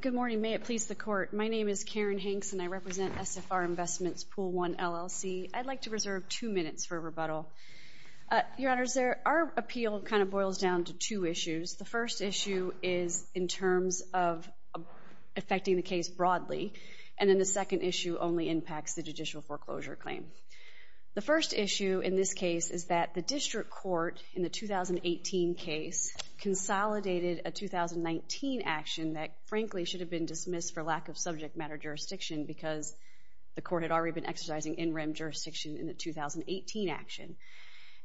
Good morning. May it please the Court. My name is Karen Hanks, and I represent SFR Investment's Pool, 1, LLC. I'd like to reserve two minutes for rebuttal. Your Honors, our appeal kind of boils down to two issues. The first issue is in terms of affecting the case broadly, and then the second issue only impacts the judicial foreclosure claim. The first issue in this case is that the District Court, in the 2018 case, consolidated a 2019 action that, frankly, should have been dismissed for lack of subject matter jurisdiction because the Court had already been exercising in rem jurisdiction in the 2018 action.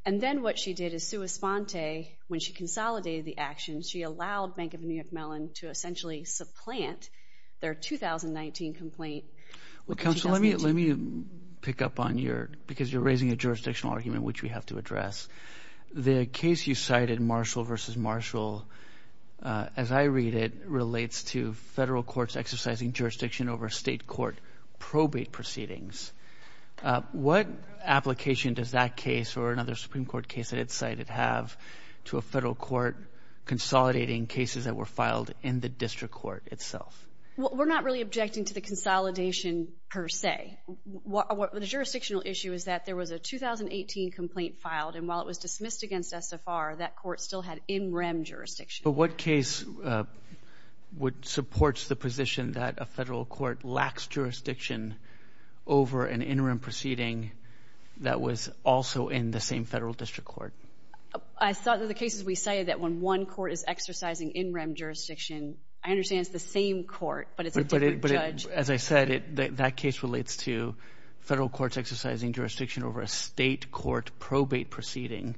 And then what she did is, sua sponte, when she consolidated the action, she allowed Bank of New York Mellon to essentially supplant their 2019 complaint. Well, Counsel, let me pick up on your – because you're raising a jurisdictional argument, which we have to address. The case you cited, Marshall v. Marshall, as I read it, relates to federal courts exercising jurisdiction over state court probate proceedings. What application does that case or another Supreme Court case that it's cited have to a federal court consolidating cases that were filed in the District Court itself? Well, we're not really objecting to the consolidation per se. The jurisdictional issue is that there was a 2018 complaint filed, and while it was dismissed against SFR, that court still had in rem jurisdiction. But what case supports the position that a federal court lacks jurisdiction over an interim proceeding that was also in the same federal district court? I thought that the cases we cited, that when one court is exercising in rem jurisdiction, I understand it's the same court, but it's a different judge. But as I said, that case relates to federal courts exercising jurisdiction over a state court probate proceeding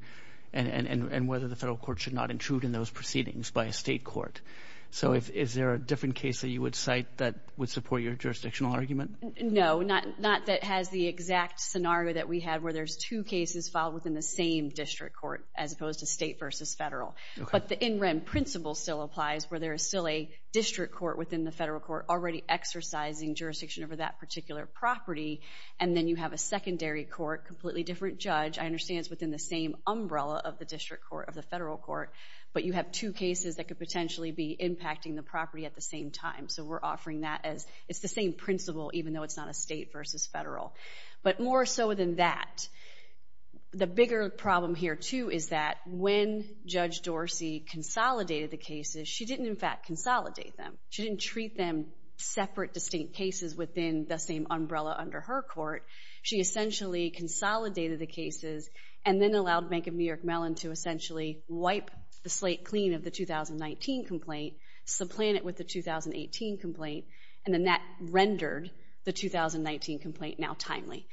and whether the federal court should not intrude in those proceedings by a state court. So is there a different case that you would cite that would support your jurisdictional argument? No, not that has the exact scenario that we have where there's two cases filed within the same district court as opposed to state versus federal. But the in rem principle still applies where there is still a district court within the federal court already exercising jurisdiction over that particular property, and then you have a secondary court, completely different judge, I understand it's within the same umbrella of the district court, of the federal court, but you have two cases that could potentially be impacting the property at the same time. So we're offering that as it's the same principle, even though it's not a state versus federal. But more so than that, the bigger problem here too is that when Judge Dorsey consolidated the cases, she didn't in fact consolidate them. She didn't treat them separate distinct cases within the same umbrella under her court. She essentially consolidated the cases and then allowed Bank of New York Mellon to essentially wipe the slate clean of the 2019 complaint, supplant it with the 2018 complaint, and then that rendered the 2019 complaint now timely.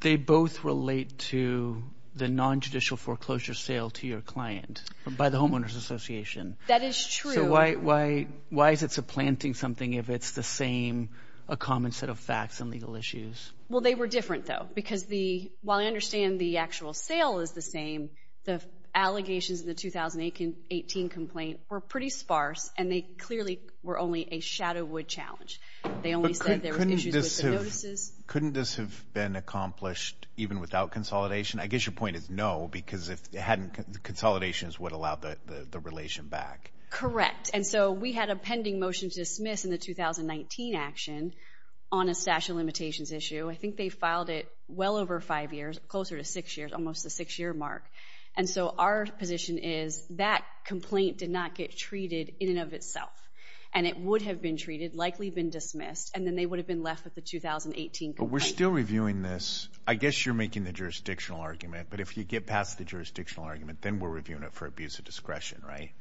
They both relate to the non-judicial foreclosure sale to your client by the Homeowners Association. That is true. So why is it supplanting something if it's the same, a common set of facts and legal issues? Well, they were different though, because while I understand the actual sale is the same, the allegations in the 2018 complaint were pretty sparse, and they clearly were only a shadow wood challenge. They only said there were issues with the notices. Couldn't this have been accomplished even without consolidation? I guess your point is no, because if it hadn't, consolidation is what allowed the relation back. Correct. And so we had a pending motion to dismiss in the 2019 action on a statute of limitations issue. I think they filed it well over five years, closer to six years, almost the six-year mark. And so our position is that complaint did not get treated in and of itself, and it would have been treated, likely been dismissed, and then they would have been left with the 2018 complaint. But we're still reviewing this. I guess you're making the jurisdictional argument, but if you get past the jurisdictional argument, then we're reviewing it for abuse of discretion, right?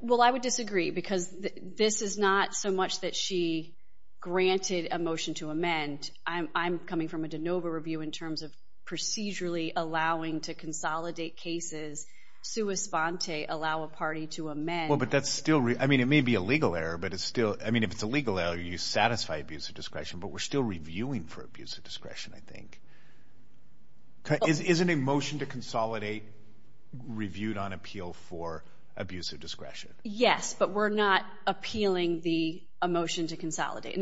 Well, I would disagree, because this is not so much that she granted a motion to amend. I'm coming from a de novo review in terms of procedurally allowing to consolidate cases, sua sponte, allow a party to amend. Well, but that's still—I mean, it may be a legal error, but it's still—I mean, if it's a legal error, you satisfy abuse of discretion, but we're still reviewing for abuse of discretion, I think. Isn't a motion to consolidate reviewed on appeal for abuse of discretion? In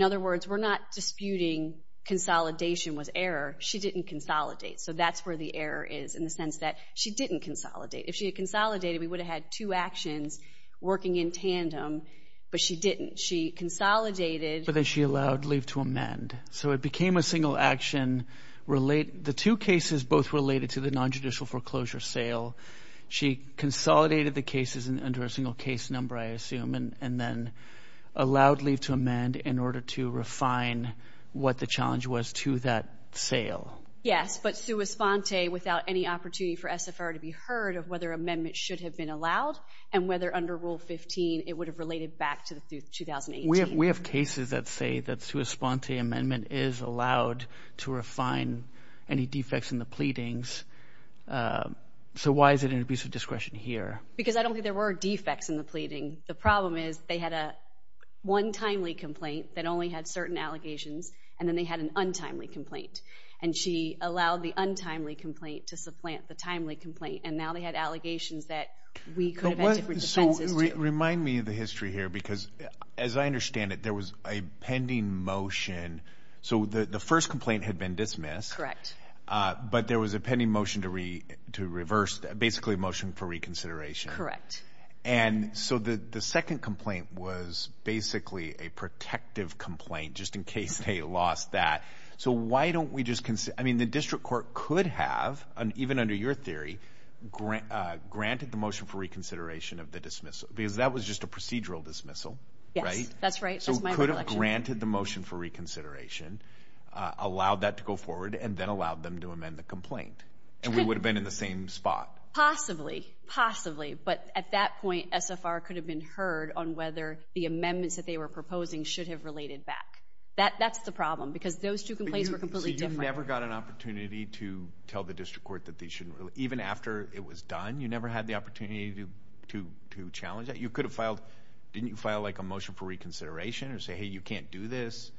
other words, we're not disputing consolidation was error. She didn't consolidate, so that's where the error is in the sense that she didn't consolidate. If she had consolidated, we would have had two actions working in tandem, but she didn't. She consolidated— But then she allowed leave to amend, so it became a single action. The two cases both related to the nonjudicial foreclosure sale. She consolidated the cases under a single case number, I assume, and then allowed leave to amend in order to refine what the challenge was to that sale. Yes, but sua sponte without any opportunity for SFR to be heard of whether amendments should have been allowed and whether under Rule 15 it would have related back to 2018. We have cases that say that sua sponte amendment is allowed to refine any defects in the pleadings. So why is it in abuse of discretion here? The problem is they had a one timely complaint that only had certain allegations, and then they had an untimely complaint. And she allowed the untimely complaint to supplant the timely complaint, and now they had allegations that we could have had different defenses to. So remind me of the history here because, as I understand it, there was a pending motion. So the first complaint had been dismissed. Correct. But there was a pending motion to reverse, basically a motion for reconsideration. Correct. And so the second complaint was basically a protective complaint just in case they lost that. So why don't we just consider, I mean, the district court could have, even under your theory, granted the motion for reconsideration of the dismissal because that was just a procedural dismissal, right? Yes, that's right. So it could have granted the motion for reconsideration, allowed that to go forward, and then allowed them to amend the complaint, and we would have been in the same spot. Possibly, possibly, but at that point, SFR could have been heard on whether the amendments that they were proposing should have related back. That's the problem because those two complaints were completely different. So you never got an opportunity to tell the district court that they shouldn't, even after it was done, you never had the opportunity to challenge that? You could have filed, didn't you file like a motion for reconsideration or say, hey, you can't do this?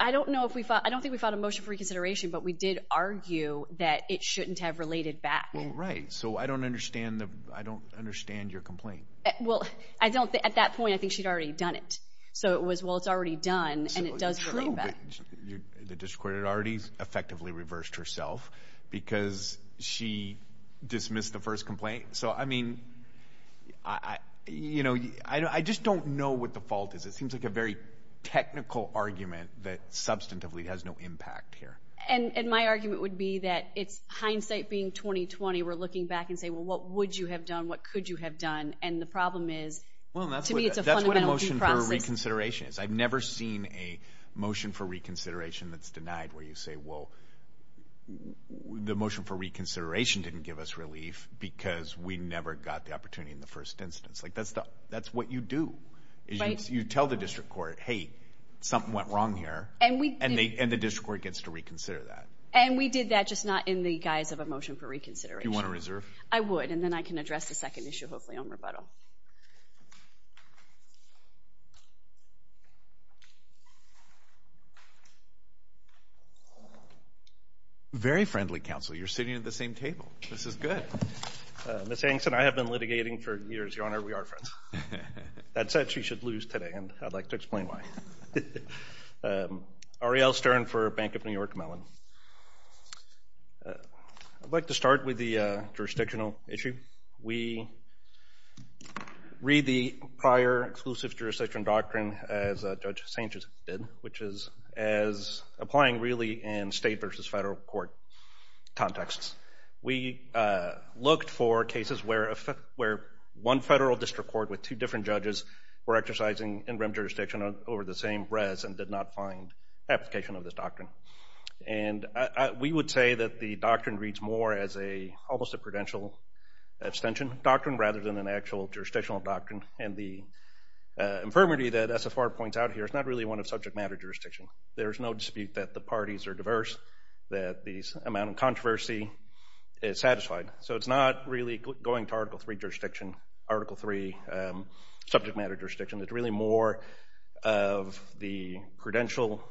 I don't know if we filed, I don't think we filed a motion for reconsideration, but we did argue that it shouldn't have related back. Well, right, so I don't understand your complaint. Well, at that point, I think she'd already done it. So it was, well, it's already done, and it does relate back. The district court had already effectively reversed herself because she dismissed the first complaint. So, I mean, you know, I just don't know what the fault is. It seems like a very technical argument that substantively has no impact here. And my argument would be that it's hindsight being 20-20. We're looking back and saying, well, what would you have done? What could you have done? And the problem is, to me, it's a fundamental due process. Well, that's what a motion for reconsideration is. I've never seen a motion for reconsideration that's denied where you say, well, the motion for reconsideration didn't give us relief because we never got the opportunity in the first instance. Like, that's what you do is you tell the district court, hey, something went wrong here, and the district court gets to reconsider that. And we did that, just not in the guise of a motion for reconsideration. Do you want to reserve? I would, and then I can address the second issue, hopefully, on rebuttal. Very friendly, counsel. You're sitting at the same table. This is good. Ms. Angston, I have been litigating for years, Your Honor. We are friends. That said, she should lose today, and I'd like to explain why. Ariel Stern for Bank of New York Mellon. I'd like to start with the jurisdictional issue. We read the prior exclusive jurisdiction doctrine as Judge Sanchez did, which is as applying really in state versus federal court contexts. We looked for cases where one federal district court with two different judges were exercising interim jurisdiction over the same res and did not find application of this doctrine. And we would say that the doctrine reads more as almost a prudential abstention doctrine rather than an actual jurisdictional doctrine, and the infirmity that SFR points out here is not really one of subject matter jurisdiction. There is no dispute that the parties are diverse, that the amount of controversy is satisfied. So it's not really going to Article III jurisdiction, Article III subject matter jurisdiction. It's really more of the credential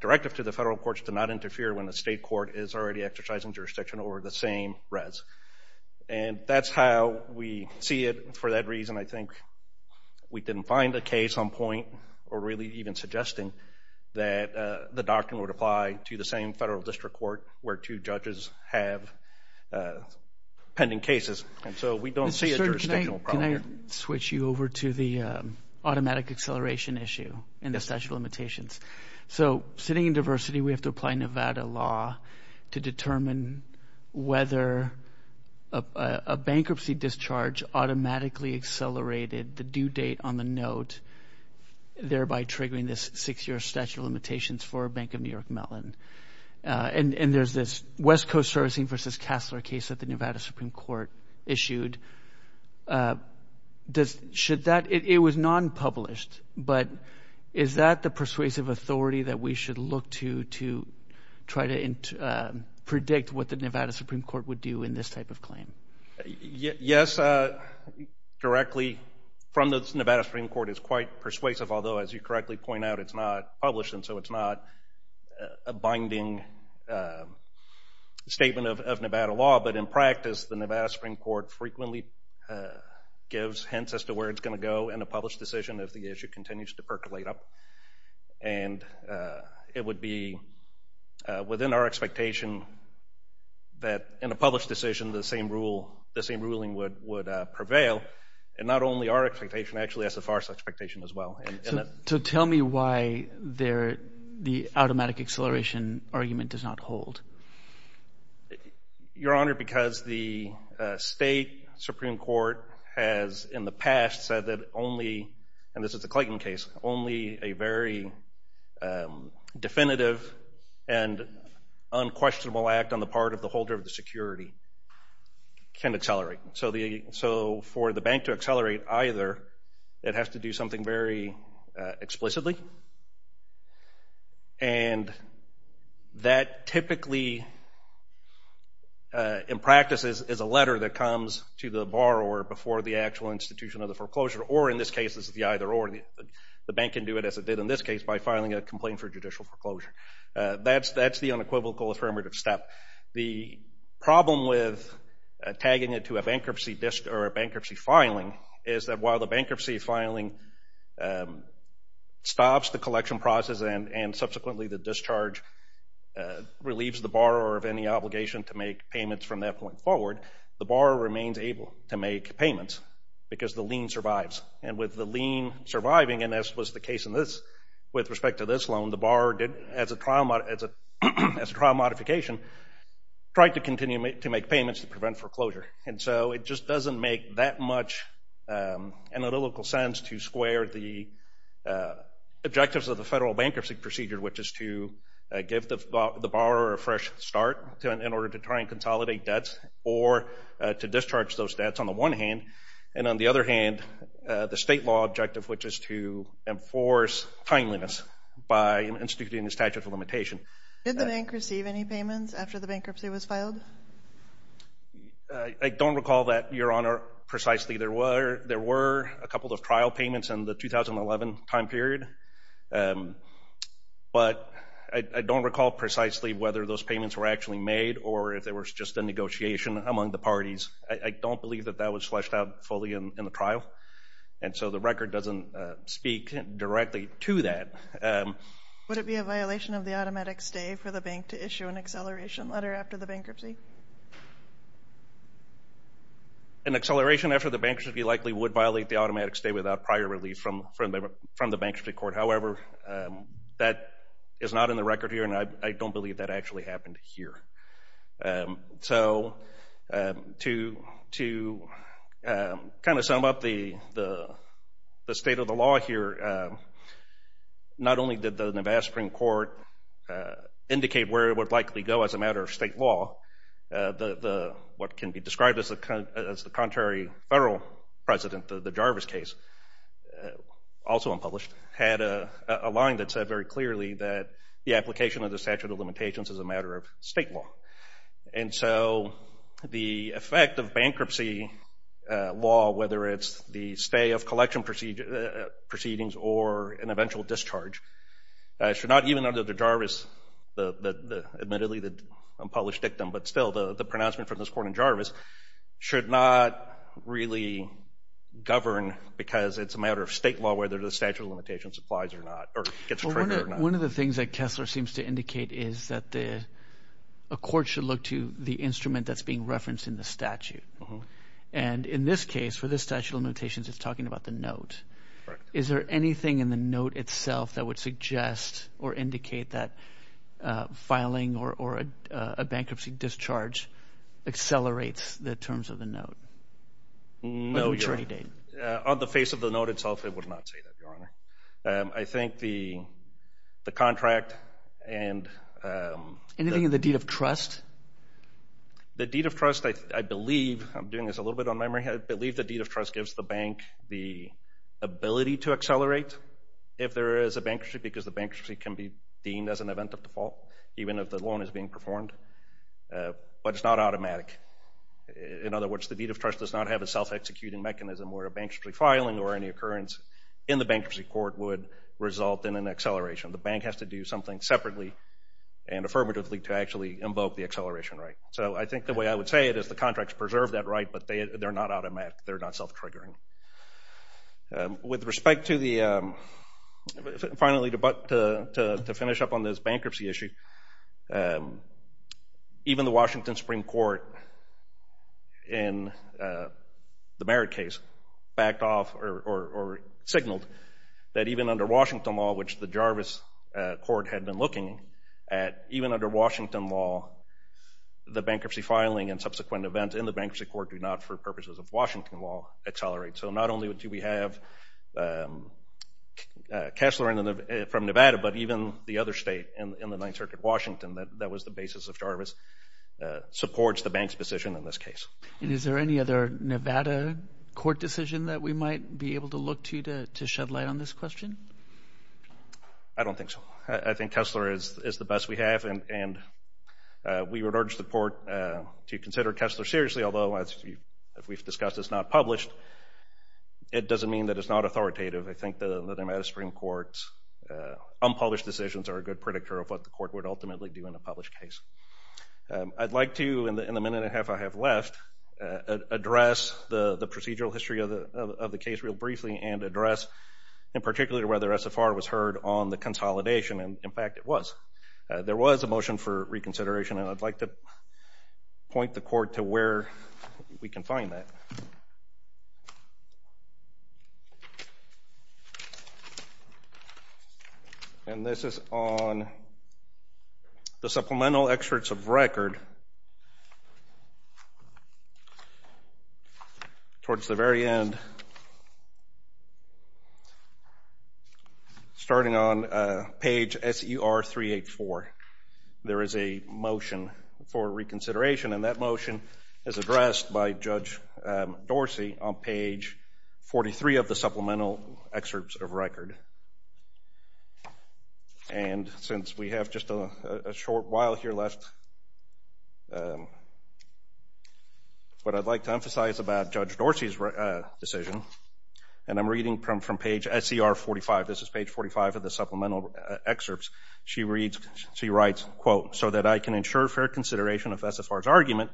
directive to the federal courts to not interfere when the state court is already exercising jurisdiction over the same res. And that's how we see it. For that reason, I think we didn't find a case on point or really even suggesting that the doctrine would apply to the same federal district court where two judges have pending cases. And so we don't see a jurisdictional problem here. Can I switch you over to the automatic acceleration issue in the statute of limitations? So sitting in diversity, we have to apply Nevada law to determine whether a bankruptcy discharge automatically accelerated the due date on the note, thereby triggering this six-year statute of limitations for Bank of New York Mellon. And there's this West Coast Servicing v. Kassler case that the Nevada Supreme Court issued. It was non-published, but is that the persuasive authority that we should look to to try to predict what the Nevada Supreme Court would do in this type of claim? Yes, directly from the Nevada Supreme Court is quite persuasive, although as you correctly point out, it's not published, and so it's not a binding statement of Nevada law. But in practice, the Nevada Supreme Court frequently gives hints as to where it's going to go in a published decision if the issue continues to percolate up. And it would be within our expectation that in a published decision the same ruling would prevail. And not only our expectation, actually SFR's expectation as well. So tell me why the automatic acceleration argument does not hold. Your Honor, because the state Supreme Court has in the past said that only, and this is the Clayton case, only a very definitive and unquestionable act on the part of the holder of the security can accelerate. So for the bank to accelerate either, it has to do something very explicitly. And that typically in practice is a letter that comes to the borrower before the actual institution of the foreclosure, or in this case it's the either or. The bank can do it as it did in this case by filing a complaint for judicial foreclosure. That's the unequivocal affirmative step. The problem with tagging it to a bankruptcy filing is that while the bankruptcy filing stops the collection process and subsequently the discharge relieves the borrower of any obligation to make payments from that point forward, the borrower remains able to make payments because the lien survives. And with the lien surviving, and this was the case with respect to this loan, the borrower, as a trial modification, tried to continue to make payments to prevent foreclosure. And so it just doesn't make that much analytical sense to square the objectives of the federal bankruptcy procedure, which is to give the borrower a fresh start in order to try and consolidate debts or to discharge those debts on the one hand. And on the other hand, the state law objective, which is to enforce timeliness by instituting a statute of limitation. Did the bank receive any payments after the bankruptcy was filed? I don't recall that, Your Honor, precisely. There were a couple of trial payments in the 2011 time period, but I don't recall precisely whether those payments were actually made or if there was just a negotiation among the parties. I don't believe that that was fleshed out fully in the trial, and so the record doesn't speak directly to that. Would it be a violation of the automatic stay for the bank to issue an acceleration letter after the bankruptcy? An acceleration after the bankruptcy likely would violate the automatic stay without prior relief from the bankruptcy court. However, that is not in the record here, and I don't believe that actually happened here. So to kind of sum up the state of the law here, not only did the Navaspring court indicate where it would likely go as a matter of state law, what can be described as the contrary federal president, the Jarvis case, also unpublished, had a line that said very clearly that the application of the statute of limitations is a matter of state law. And so the effect of bankruptcy law, whether it's the stay of collection proceedings or an eventual discharge, should not even under the Jarvis, admittedly the unpublished dictum, but still the pronouncement from this court in Jarvis, should not really govern because it's a matter of state law whether the statute of limitations applies or not or gets triggered or not. One of the things that Kessler seems to indicate is that a court should look to the instrument that's being referenced in the statute. And in this case, for this statute of limitations, it's talking about the note. Is there anything in the note itself that would suggest or indicate that filing or a bankruptcy discharge accelerates the terms of the note? No, Your Honor. Or the maturity date? On the face of the note itself, it would not say that, Your Honor. I think the contract and… Anything in the deed of trust? The deed of trust, I believe, I'm doing this a little bit on memory, I believe the deed of trust gives the bank the ability to accelerate if there is a bankruptcy because the bankruptcy can be deemed as an event of default, even if the loan is being performed. But it's not automatic. In other words, the deed of trust does not have a self-executing mechanism where a bankruptcy filing or any occurrence in the bankruptcy court would result in an acceleration. The bank has to do something separately and affirmatively to actually invoke the acceleration right. So I think the way I would say it is the contracts preserve that right, but they're not automatic. They're not self-triggering. With respect to the… Finally, to finish up on this bankruptcy issue, even the Washington Supreme Court in the Merritt case backed off or signaled that even under Washington law, which the Jarvis court had been looking at, even under Washington law, the bankruptcy filing and subsequent events in the bankruptcy court do not, for purposes of Washington law, accelerate. So not only do we have Kessler from Nevada, but even the other state in the Ninth Circuit, Washington, that was the basis of Jarvis, supports the bank's position in this case. And is there any other Nevada court decision that we might be able to look to to shed light on this question? I don't think so. I think Kessler is the best we have, and we would urge the court to consider Kessler seriously, although, as we've discussed, it's not published. It doesn't mean that it's not authoritative. I think the Nevada Supreme Court's unpublished decisions are a good predictor of what the court would ultimately do in a published case. I'd like to, in the minute and a half I have left, address the procedural history of the case real briefly and address in particular whether SFR was heard on the consolidation, and, in fact, it was. There was a motion for reconsideration, and I'd like to point the court to where we can find that. And this is on the supplemental excerpts of record. Towards the very end, starting on page SER384, there is a motion for reconsideration, and that motion is addressed by Judge Dorsey on page 43 of the supplemental excerpts of record. And since we have just a short while here left, what I'd like to emphasize about Judge Dorsey's decision, and I'm reading from page SER45. This is page 45 of the supplemental excerpts. She writes, quote, so that I can ensure fair consideration of SFR's argument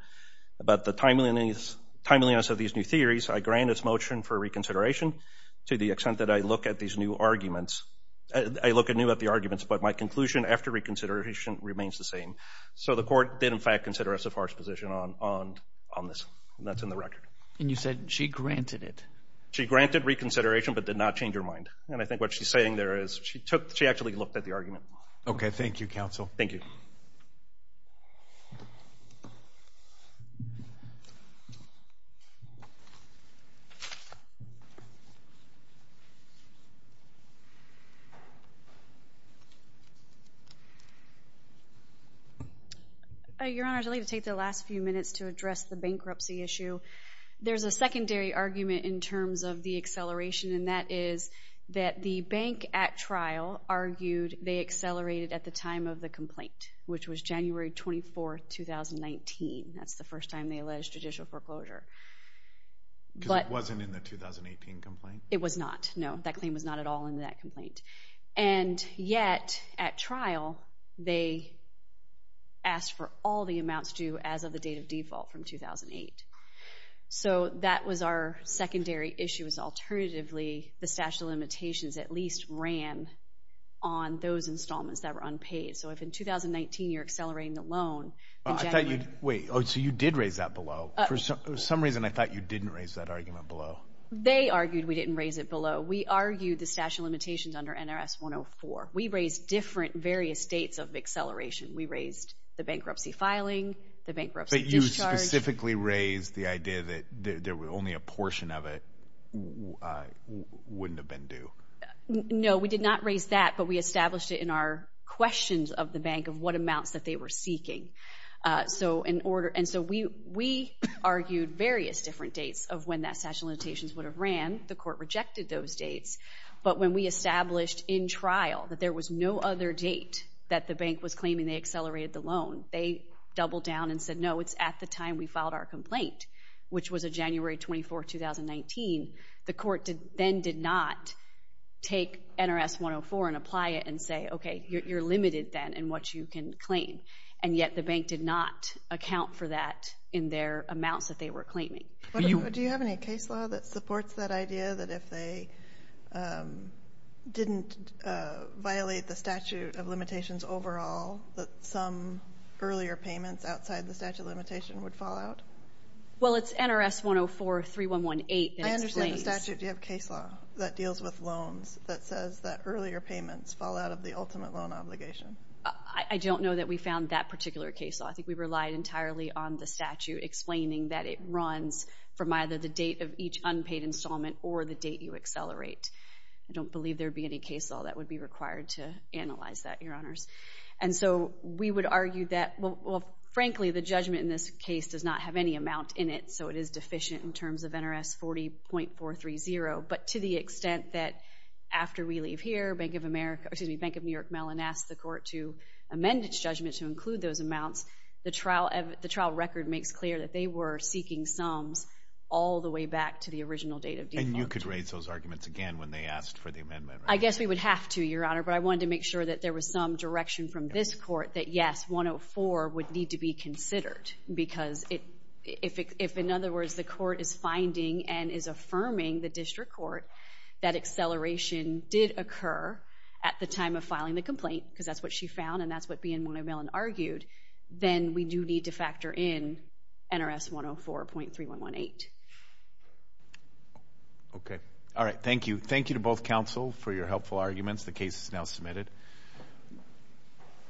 about the timeliness of these new theories, I grant its motion for reconsideration to the extent that I look at these new arguments. I look anew at the arguments, but my conclusion after reconsideration remains the same. So the court did, in fact, consider SFR's position on this, and that's in the record. And you said she granted it. She granted reconsideration but did not change her mind. And I think what she's saying there is that she actually looked at the argument. Okay, thank you, counsel. Thank you. Your Honor, I'd like to take the last few minutes to address the bankruptcy issue. There's a secondary argument in terms of the acceleration, and that is that the bank at trial argued they accelerated at the time of the complaint, which was January 24, 2019. That's the first time they alleged judicial foreclosure. Because it wasn't in the 2018 complaint? It was not, no. That claim was not at all in that complaint. And yet, at trial, they asked for all the amounts due as of the date of default from 2008. So that was our secondary issue, was alternatively the statute of limitations at least ran on those installments that were unpaid. So if in 2019 you're accelerating the loan in January... Wait, so you did raise that below. For some reason, I thought you didn't raise that argument below. They argued we didn't raise it below. We argued the statute of limitations under NRS 104. We raised different various states of acceleration. We raised the bankruptcy filing, the bankruptcy discharge. But you specifically raised the idea that only a portion of it wouldn't have been due. No, we did not raise that, but we established it in our questions of the bank of what amounts that they were seeking. And so we argued various different dates of when that statute of limitations would have ran. The court rejected those dates. But when we established in trial that there was no other date that the bank was claiming they accelerated the loan, they doubled down and said, no, it's at the time we filed our complaint, which was January 24, 2019. The court then did not take NRS 104 and apply it and say, okay, you're limited then in what you can claim. And yet the bank did not account for that in their amounts that they were claiming. Do you have any case law that supports that idea that if they didn't violate the statute of limitations overall that some earlier payments outside the statute of limitation would fall out? Well, it's NRS 104-3118 that explains... I understand the statute. Do you have a case law that deals with loans that says that earlier payments fall out of the ultimate loan obligation? I don't know that we found that particular case law. I think we relied entirely on the statute explaining that it runs from either the date of each unpaid installment or the date you accelerate. I don't believe there would be any case law that would be required to analyze that, Your Honors. And so we would argue that... Well, frankly, the judgment in this case does not have any amount in it, so it is deficient in terms of NRS 40.430. But to the extent that after we leave here, Bank of America... Excuse me, Bank of New York Mellon asked the court to amend its judgment to include those amounts, the trial record makes clear that they were seeking sums all the way back to the original date of default. And you could raise those arguments again when they asked for the amendment, right? I guess we would have to, Your Honor, but I wanted to make sure that there was some direction from this court that, yes, 104 would need to be considered, because if, in other words, the court is finding and is affirming the district court that acceleration did occur at the time of filing the complaint, because that's what she found and that's what B. and Mona Mellon argued, then we do need to factor in NRS 104.3118. Okay. All right, thank you. Thank you to both counsel for your helpful arguments. The case is now submitted.